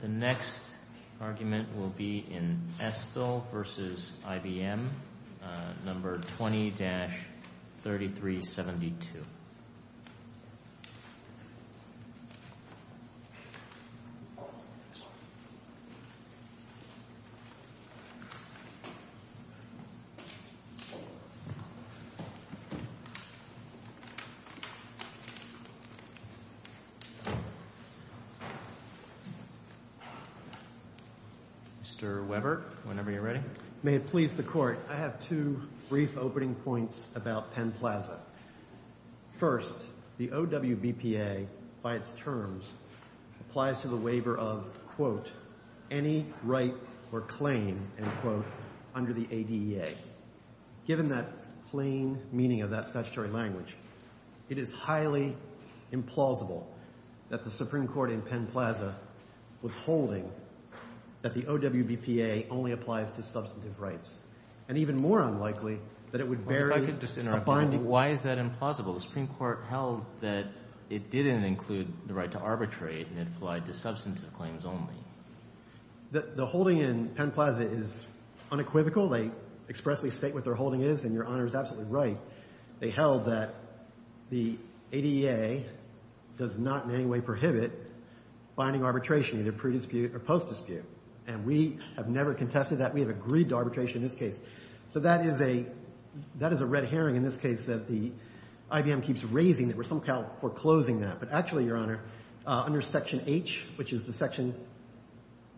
The next argument will be in Estle v. IBM, No. 20-3372. Mr. Weber, whenever you're ready. May it please the Court, I have two brief opening points about Penn Plaza. First, the OWBPA, by its terms, applies to the waiver of, quote, any right or claim, end quote, under the ADEA. Given that plain meaning of that statutory language, it is highly implausible that the Supreme Court in Penn Plaza was holding that the OWBPA only applies to substantive rights. And even more unlikely that it would vary… If I could just interrupt you, why is that implausible? The Supreme Court held that it didn't include the right to arbitrate and it applied to substantive claims only. The holding in Penn Plaza is unequivocal. They expressly state what their holding is, and Your Honor is absolutely right. They held that the ADEA does not in any way prohibit binding arbitration, either pre-dispute or post-dispute. And we have never contested that. We have agreed to arbitration in this case. So that is a red herring in this case that the IBM keeps raising that we're somehow foreclosing that. But actually, Your Honor, under Section H, which is the section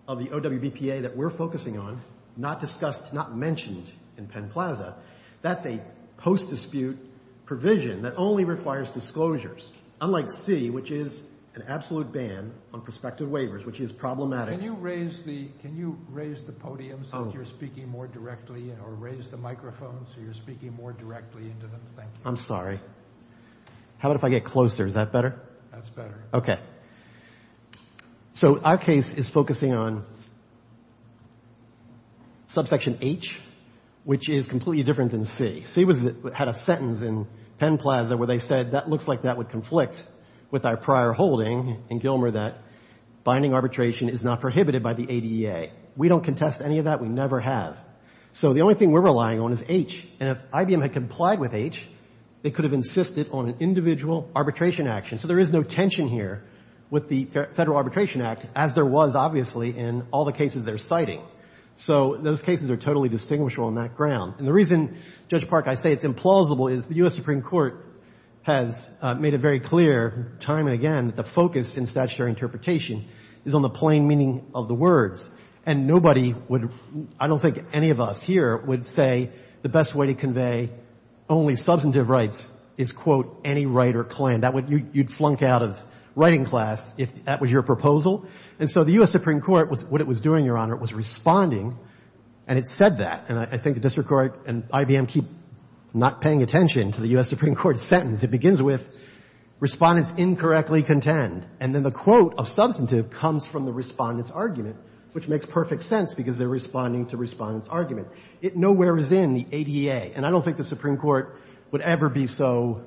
of the OWBPA that we're focusing on, not discussed, not mentioned in Penn Plaza, that's a post-dispute provision that only requires disclosures, unlike C, which is an absolute ban on prospective waivers, which is problematic. Can you raise the podium so that you're speaking more directly or raise the microphone so you're speaking more directly into them? Thank you. I'm sorry. How about if I get closer? Is that better? That's better. Okay. So our case is focusing on Subsection H, which is completely different than C. C had a sentence in Penn Plaza where they said that looks like that would conflict with our prior holding in Gilmer that binding arbitration is not prohibited by the ADEA. We don't contest any of that. We never have. So the only thing we're relying on is H. And if IBM had complied with H, they could have insisted on an individual arbitration action. So there is no tension here with the Federal Arbitration Act, as there was, obviously, in all the cases they're citing. So those cases are totally distinguishable on that ground. And the reason, Judge Park, I say it's implausible is the U.S. Supreme Court has made it very clear time and again that the focus in statutory interpretation is on the plain meaning of the words. And nobody would – I don't think any of us here would say the best way to convey only substantive rights is, quote, any right or claim. That would – you'd flunk out of writing class if that was your proposal. And so the U.S. Supreme Court, what it was doing, Your Honor, was responding, and it said that. And I think the district court and IBM keep not paying attention to the U.S. Supreme Court sentence. It begins with respondents incorrectly contend. And then the quote of substantive comes from the respondent's argument, which makes perfect sense because they're responding to respondent's argument. It nowhere is in the ADA. And I don't think the Supreme Court would ever be so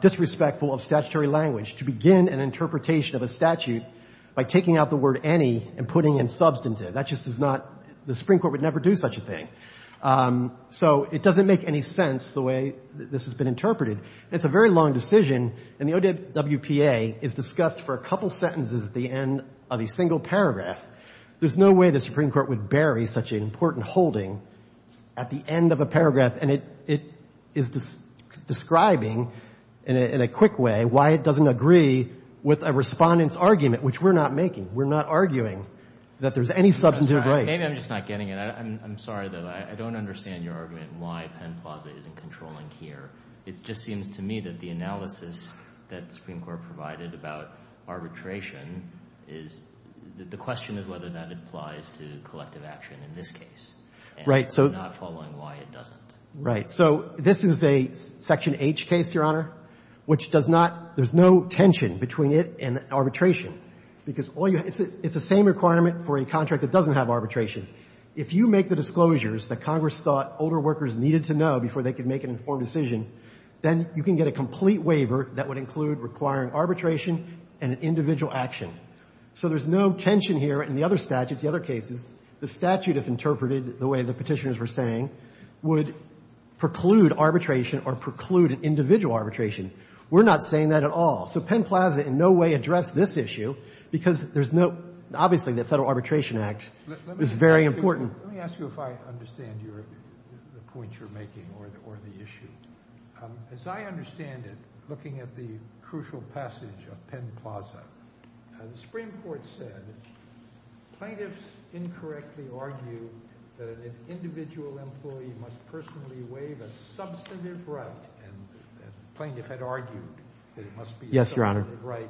disrespectful of statutory language to begin an interpretation of a statute by taking out the word any and putting in substantive. That just is not – the Supreme Court would never do such a thing. So it doesn't make any sense the way this has been interpreted. It's a very long decision, and the WPA is discussed for a couple sentences at the end of a single paragraph. There's no way the Supreme Court would bury such an important holding at the end of a paragraph. And it is describing in a quick way why it doesn't agree with a respondent's argument, which we're not making. We're not arguing that there's any substantive right. Maybe I'm just not getting it. I'm sorry, though. I don't understand your argument why Penn Plaza isn't controlling here. It just seems to me that the analysis that the Supreme Court provided about arbitration is – the question is whether that applies to collective action in this case. Right. And I'm not following why it doesn't. Right. So this is a Section H case, Your Honor, which does not – there's no tension between it and arbitration. Because all you – it's the same requirement for a contract that doesn't have arbitration. If you make the disclosures that Congress thought older workers needed to know before they could make an informed decision, then you can get a complete waiver that would include requiring arbitration and an individual action. So there's no tension here in the other statutes, the other cases. The statute, if interpreted the way the Petitioners were saying, would preclude arbitration or preclude an individual arbitration. We're not saying that at all. So Penn Plaza in no way addressed this issue because there's no – Let me ask you if I understand the point you're making or the issue. As I understand it, looking at the crucial passage of Penn Plaza, the Supreme Court said plaintiffs incorrectly argue that an individual employee must personally waive a substantive right. And the plaintiff had argued that it must be a substantive right.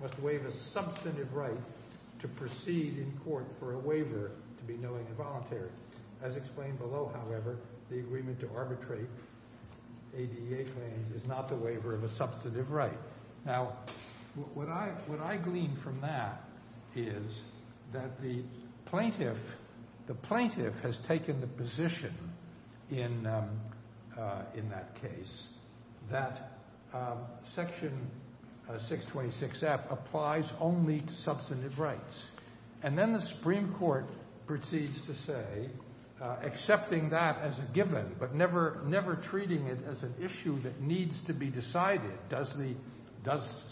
Must waive a substantive right to proceed in court for a waiver to be knowing and voluntary. As explained below, however, the agreement to arbitrate ADA claims is not the waiver of a substantive right. Now, what I glean from that is that the plaintiff has taken the position in that case that Section 626F applies only to substantive rights. And then the Supreme Court proceeds to say, accepting that as a given but never treating it as an issue that needs to be decided. Does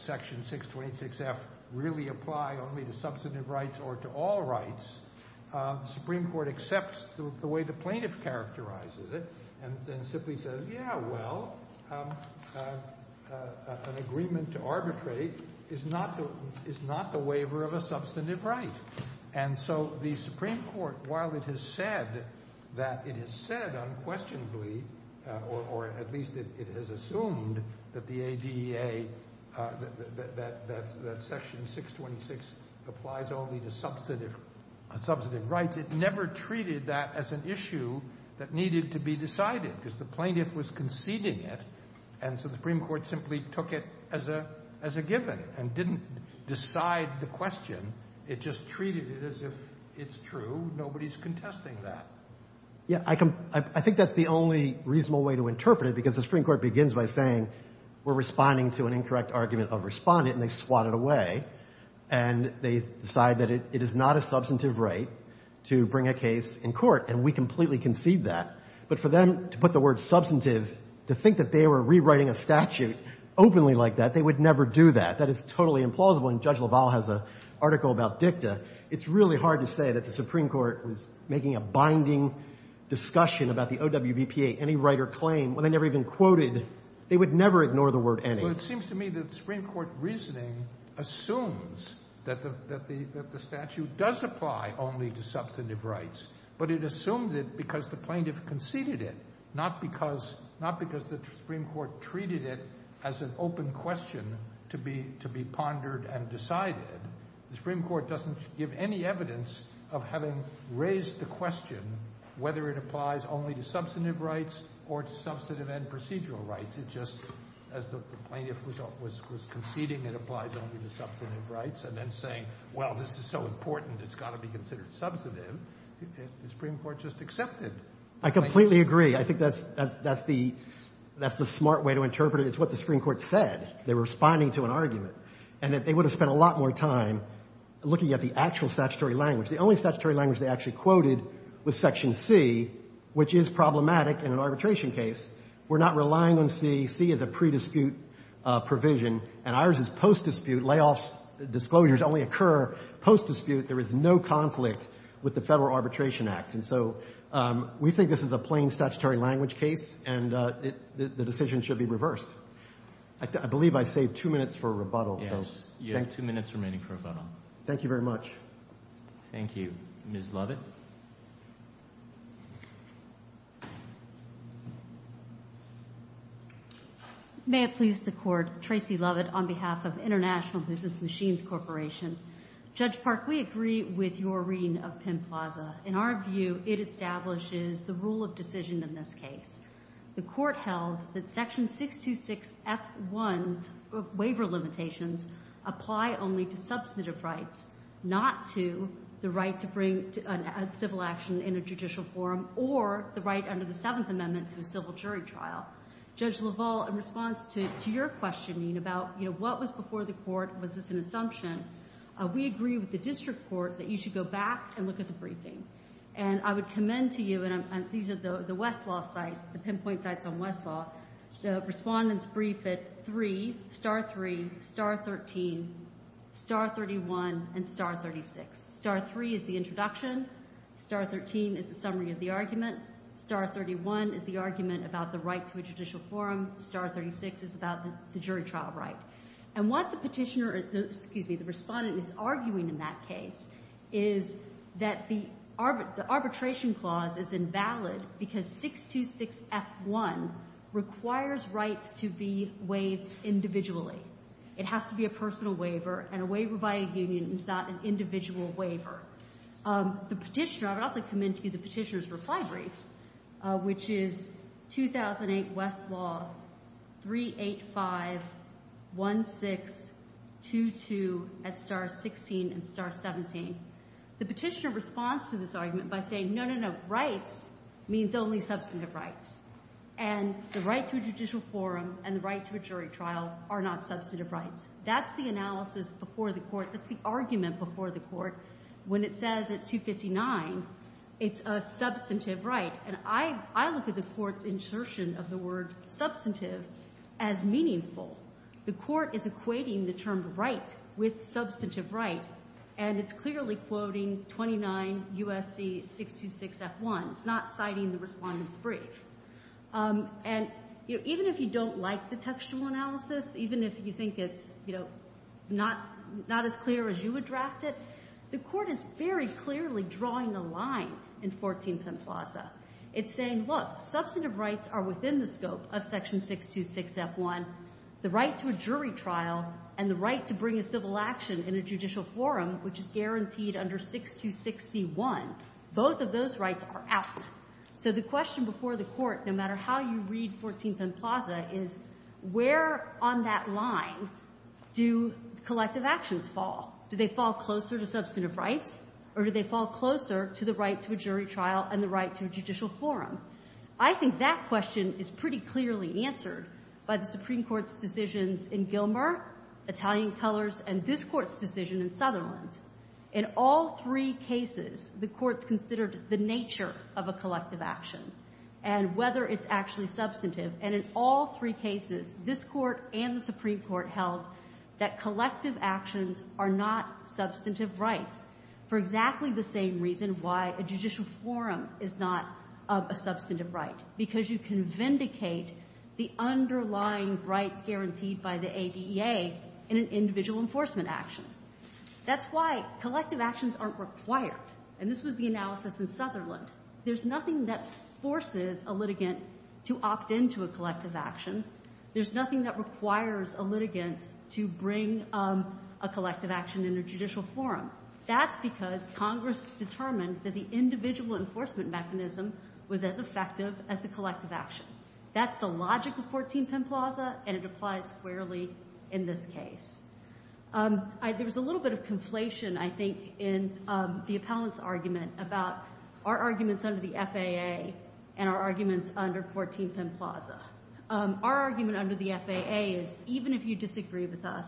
Section 626F really apply only to substantive rights or to all rights? The Supreme Court accepts the way the plaintiff characterizes it and simply says, yeah, well, an agreement to arbitrate is not the waiver of a substantive right. And so the Supreme Court, while it has said that it has said unquestionably or at least it has assumed that the ADA, that Section 626 applies only to substantive rights, it never treated that as an issue that needed to be decided because the plaintiff was conceding it. And so the Supreme Court simply took it as a given and didn't decide the question. It just treated it as if it's true. Nobody's contesting that. Yeah, I think that's the only reasonable way to interpret it because the Supreme Court begins by saying we're responding to an incorrect argument of respondent and they swat it away. And they decide that it is not a substantive right to bring a case in court, and we completely concede that. But for them to put the word substantive, to think that they were rewriting a statute openly like that, they would never do that. That is totally implausible, and Judge LaValle has an article about dicta. It's really hard to say that the Supreme Court was making a binding discussion about the OWBPA, any right or claim, when they never even quoted, they would never ignore the word any. Well, it seems to me that Supreme Court reasoning assumes that the statute does apply only to substantive rights, but it assumed it because the plaintiff conceded it, not because the Supreme Court treated it as an open question to be pondered and decided. The Supreme Court doesn't give any evidence of having raised the question whether it applies only to substantive rights or to substantive and procedural rights. It just, as the plaintiff was conceding it applies only to substantive rights and then saying, well, this is so important it's got to be considered substantive. The Supreme Court just accepted. I completely agree. I think that's the smart way to interpret it. It's what the Supreme Court said. They were responding to an argument, and they would have spent a lot more time looking at the actual statutory language. The only statutory language they actually quoted was Section C, which is problematic in an arbitration case. We're not relying on C. C is a pre-dispute provision, and ours is post-dispute. Layoffs, disclosures only occur post-dispute. There is no conflict with the Federal Arbitration Act. And so we think this is a plain statutory language case, and the decision should be reversed. I believe I saved two minutes for rebuttal. Yes, you have two minutes remaining for rebuttal. Thank you very much. Thank you. Ms. Lovett? May it please the Court, Tracy Lovett on behalf of International Business Machines Corporation. Judge Park, we agree with your reading of Penn Plaza. In our view, it establishes the rule of decision in this case. The Court held that Section 626F1's waiver limitations apply only to substantive rights, not to the right to bring a civil action in a judicial forum or the right under the Seventh Amendment to a civil jury trial. Judge LaValle, in response to your questioning about, you know, what was before the Court, was this an assumption, we agree with the district court that you should go back and look at the briefing. And I would commend to you, and these are the Westlaw sites, the pinpoint sites on Westlaw, the respondent's brief at 3, star 3, star 13, star 31, and star 36. Star 3 is the introduction. Star 13 is the summary of the argument. Star 31 is the argument about the right to a judicial forum. Star 36 is about the jury trial right. And what the petitioner, excuse me, the respondent is arguing in that case is that the arbitration clause is invalid because 626F1 requires rights to be waived individually. It has to be a personal waiver, and a waiver by a union is not an individual waiver. The petitioner, I would also commend to you the petitioner's reply brief, which is 2008 Westlaw 3851622 at star 16 and star 17. The petitioner responds to this argument by saying, no, no, no, rights means only substantive rights. And the right to a judicial forum and the right to a jury trial are not substantive rights. That's the analysis before the Court. That's the argument before the Court. When it says it's 259, it's a substantive right. And I look at the Court's insertion of the word substantive as meaningful. The Court is equating the term right with substantive right, and it's clearly quoting 29 U.S.C. 626F1. It's not citing the respondent's brief. And even if you don't like the textual analysis, even if you think it's not as clear as you would draft it, the Court is very clearly drawing the line in 14 Plaza. It's saying, look, substantive rights are within the scope of section 626F1. The right to a jury trial and the right to bring a civil action in a judicial forum, which is guaranteed under 6261, both of those rights are out. So the question before the Court, no matter how you read 14th and Plaza, is where on that line do collective actions fall? Do they fall closer to substantive rights, or do they fall closer to the right to a jury trial and the right to a judicial forum? I think that question is pretty clearly answered by the Supreme Court's decisions in Gilmer, Italian colors, and this Court's decision in Sutherland. In all three cases, the Court's considered the nature of a collective action and whether it's actually substantive. And in all three cases, this Court and the Supreme Court held that collective actions are not substantive rights for exactly the same reason why a judicial forum is not a substantive right, because you can vindicate the underlying rights guaranteed by the ADEA in an individual enforcement action. That's why collective actions aren't required. And this was the analysis in Sutherland. There's nothing that forces a litigant to opt in to a collective action. There's nothing that requires a litigant to bring a collective action in a judicial forum. That's because Congress determined that the individual enforcement mechanism was as effective as the collective action. That's the logic of 14th and Plaza, and it applies squarely in this case. There was a little bit of conflation, I think, in the appellant's argument about our arguments under the FAA and our arguments under 14th and Plaza. Our argument under the FAA is even if you disagree with us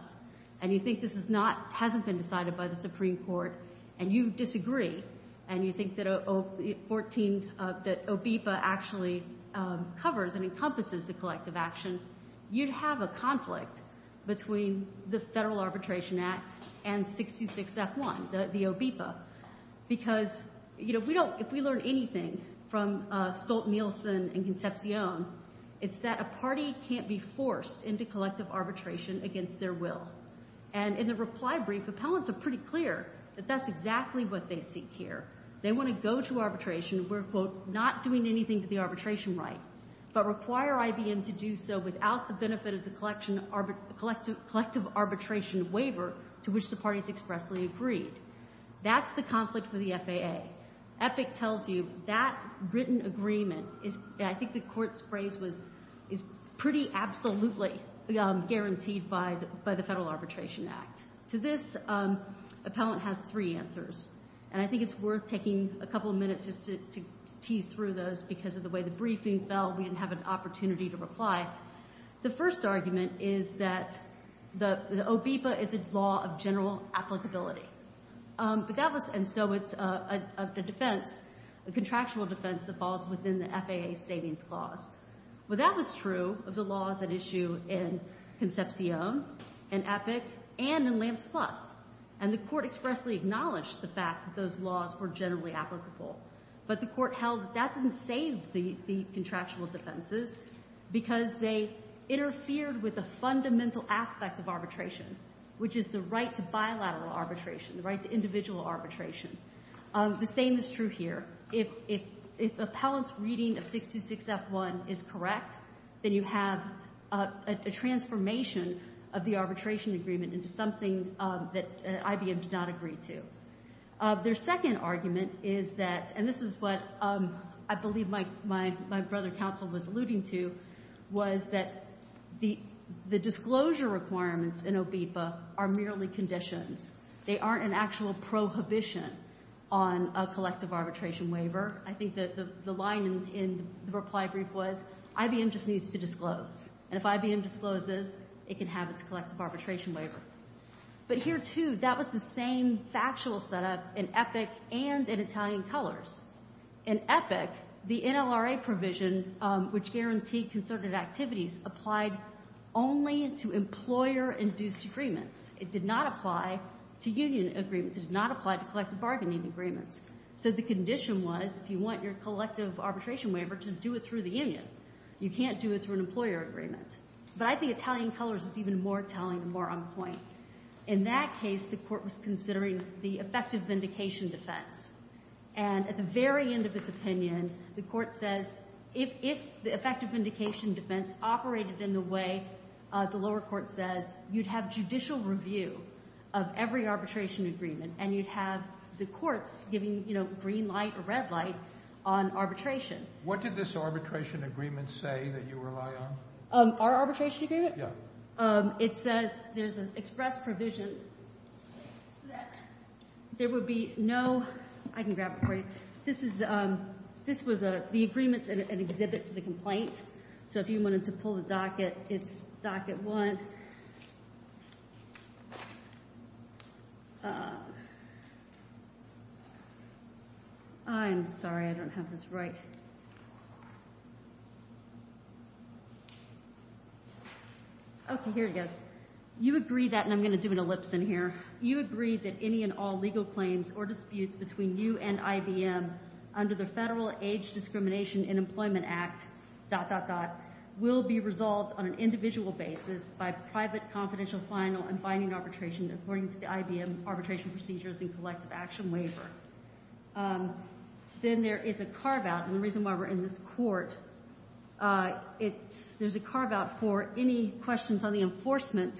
and you think this hasn't been decided by the Supreme Court and you disagree and you think that OBIPA actually covers and encompasses the collective action, you'd have a conflict between the Federal Arbitration Act and 626F1, the OBIPA, because if we learn anything from Stolt-Nielsen and Concepcion, it's that a party can't be forced into collective arbitration against their will. And in the reply brief, appellants are pretty clear that that's exactly what they seek here. They want to go to arbitration where, quote, not doing anything to the arbitration right, but require IBM to do so without the benefit of the collective arbitration waiver to which the parties expressly agreed. That's the conflict with the FAA. EPIC tells you that written agreement is, I think the Court's phrase was pretty absolutely guaranteed by the Federal Arbitration Act. To this, appellant has three answers, and I think it's worth taking a couple minutes just to tease through those because of the way the briefing fell, we didn't have an opportunity to reply. The first argument is that the OBIPA is a law of general applicability. But that was, and so it's a defense, a contractual defense that falls within the FAA Savings Clause. Well, that was true of the laws at issue in Concepcion and EPIC and in Lamps Plus, and the Court expressly acknowledged the fact that those laws were generally applicable. But the Court held that that didn't save the contractual defenses because they interfered with a fundamental aspect of arbitration, which is the right to bilateral arbitration, the right to individual arbitration. The same is true here. If appellant's reading of 626F1 is correct, then you have a transformation of the arbitration agreement into something that IBM did not agree to. Their second argument is that, and this is what I believe my brother counsel was alluding to, was that the disclosure requirements in OBIPA are merely conditions. They aren't an actual prohibition on a collective arbitration waiver. I think the line in the reply brief was, IBM just needs to disclose. And if IBM discloses, it can have its collective arbitration waiver. But here, too, that was the same factual setup in EPIC and in Italian Colors. In EPIC, the NLRA provision, which guaranteed concerted activities, applied only to employer-induced agreements. It did not apply to union agreements. It did not apply to collective bargaining agreements. So the condition was, if you want your collective arbitration waiver, just do it through the union. You can't do it through an employer agreement. But I think Italian Colors is even more telling and more on point. In that case, the Court was considering the effective vindication defense. And at the very end of its opinion, the Court says, if the effective vindication defense operated in the way the lower court says, you'd have judicial review of every arbitration agreement, and you'd have the courts giving green light or red light on arbitration. What did this arbitration agreement say that you rely on? Our arbitration agreement? Yeah. It says there's an express provision that there would be no I can grab it for you. This was the agreement and exhibit to the complaint. So if you wanted to pull the docket, it's docket one. I'm sorry. I don't have this right. Okay, here it goes. You agree that, and I'm going to do an ellipse in here. You agree that any and all legal claims or disputes between you and IBM under the Federal Age Discrimination and Employment Act, dot, dot, dot, will be resolved on an individual basis by private confidential final and binding arbitration according to the IBM arbitration procedures and collective action waiver. Then there is a carve-out, and the reason why we're in this court, there's a carve-out for any questions on the enforcement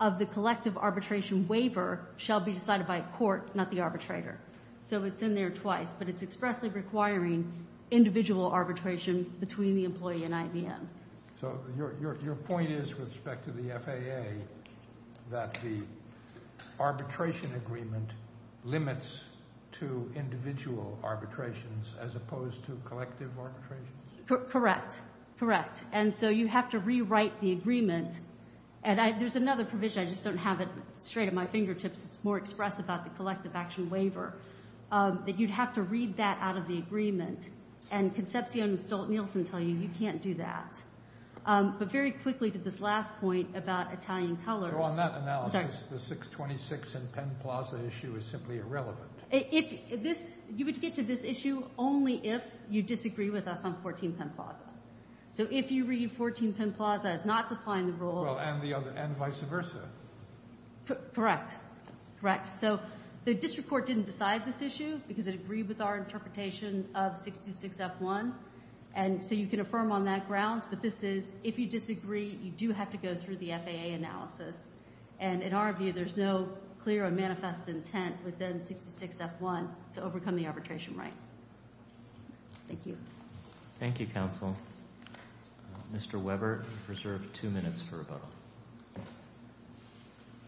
of the collective arbitration waiver shall be decided by court, not the arbitrator. So it's in there twice, but it's expressly requiring individual arbitration between the employee and IBM. So your point is with respect to the FAA that the arbitration agreement limits to individual arbitrations as opposed to collective arbitrations? Correct. Correct. And so you have to rewrite the agreement. And there's another provision. I just don't have it straight at my fingertips. It's more expressed about the collective action waiver, that you'd have to read that out of the agreement. And Concepcion and Stolt-Nielsen tell you you can't do that. But very quickly to this last point about Italian colors. So on that analysis, the 626 in Penn Plaza issue is simply irrelevant. You would get to this issue only if you disagree with us on 14 Penn Plaza. So if you read 14 Penn Plaza as not supplying the role. And vice versa. Correct. Correct. So the district court didn't decide this issue because it agreed with our interpretation of 626F1. And so you can affirm on that grounds. But this is if you disagree, you do have to go through the FAA analysis. And in our view, there's no clear and manifest intent within 626F1 to overcome the arbitration right. Thank you. Thank you, counsel. Mr. Weber, you're reserved two minutes for rebuttal.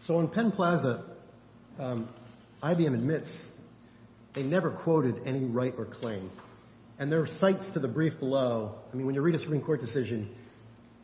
So on Penn Plaza, IBM admits they never quoted any right or claim. And there are sites to the brief below. I mean, when you read a Supreme Court decision,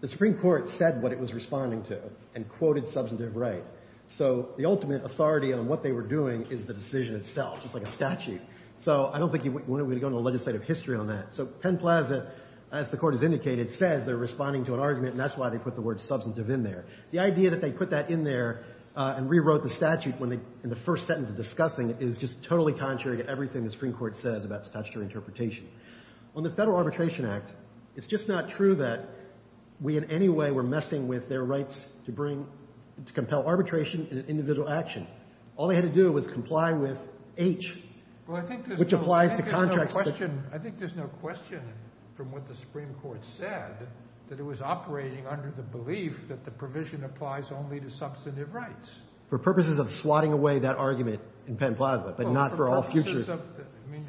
the Supreme Court said what it was responding to and quoted substantive right. So the ultimate authority on what they were doing is the decision itself, just like a statute. So I don't think you want to go into legislative history on that. So Penn Plaza, as the court has indicated, says they're responding to an argument, and that's why they put the word substantive in there. The idea that they put that in there and rewrote the statute in the first sentence of discussing is just totally contrary to everything the Supreme Court says about statutory interpretation. On the Federal Arbitration Act, it's just not true that we in any way were messing with their rights to bring to compel arbitration in an individual action. All they had to do was comply with H, which applies to contracts. I think there's no question from what the Supreme Court said that it was operating under the belief that the provision applies only to substantive rights. For purposes of swatting away that argument in Penn Plaza, but not for all future. I mean,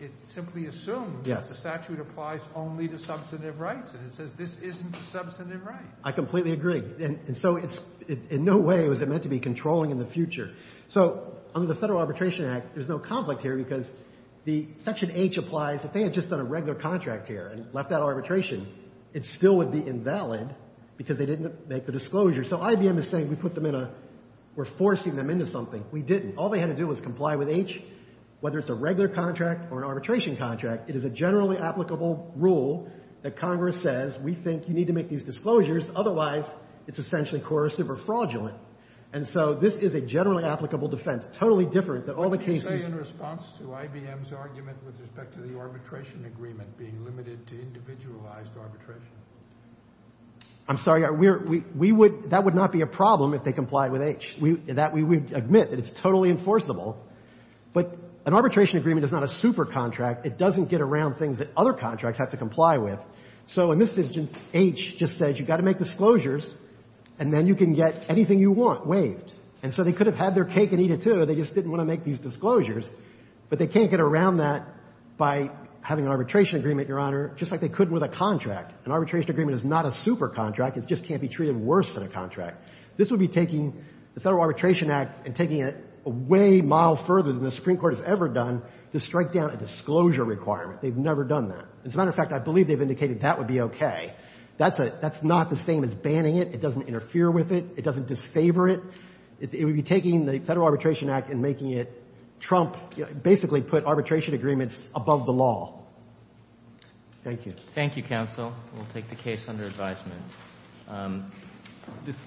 it simply assumes that the statute applies only to substantive rights, and it says this isn't a substantive right. I completely agree. And so it's, in no way was it meant to be controlling in the future. So under the Federal Arbitration Act, there's no conflict here because the section H applies. If they had just done a regular contract here and left that arbitration, it still would be invalid because they didn't make the disclosure. So IBM is saying we put them in a, we're forcing them into something. We didn't. All they had to do was comply with H. Whether it's a regular contract or an arbitration contract, it is a generally applicable rule that Congress says we think you need to make these disclosures. Otherwise, it's essentially coercive or fraudulent. And so this is a generally applicable defense, totally different than all the cases. But you say in response to IBM's argument with respect to the arbitration agreement being limited to individualized arbitration. I'm sorry. We would, that would not be a problem if they complied with H. That we would admit that it's totally enforceable. But an arbitration agreement is not a super contract. It doesn't get around things that other contracts have to comply with. So in this instance, H just says you've got to make disclosures, and then you can get anything you want waived. And so they could have had their cake and eat it, too. They just didn't want to make these disclosures. But they can't get around that by having an arbitration agreement, Your Honor, just like they could with a contract. An arbitration agreement is not a super contract. It just can't be treated worse than a contract. This would be taking the Federal Arbitration Act and taking it a way mile further than the Supreme Court has ever done to strike down a disclosure requirement. They've never done that. As a matter of fact, I believe they've indicated that would be okay. That's not the same as banning it. It doesn't interfere with it. It doesn't disfavor it. It would be taking the Federal Arbitration Act and making it trump, basically put arbitration agreements above the law. Thank you. Thank you, counsel. We'll take the case under advisement.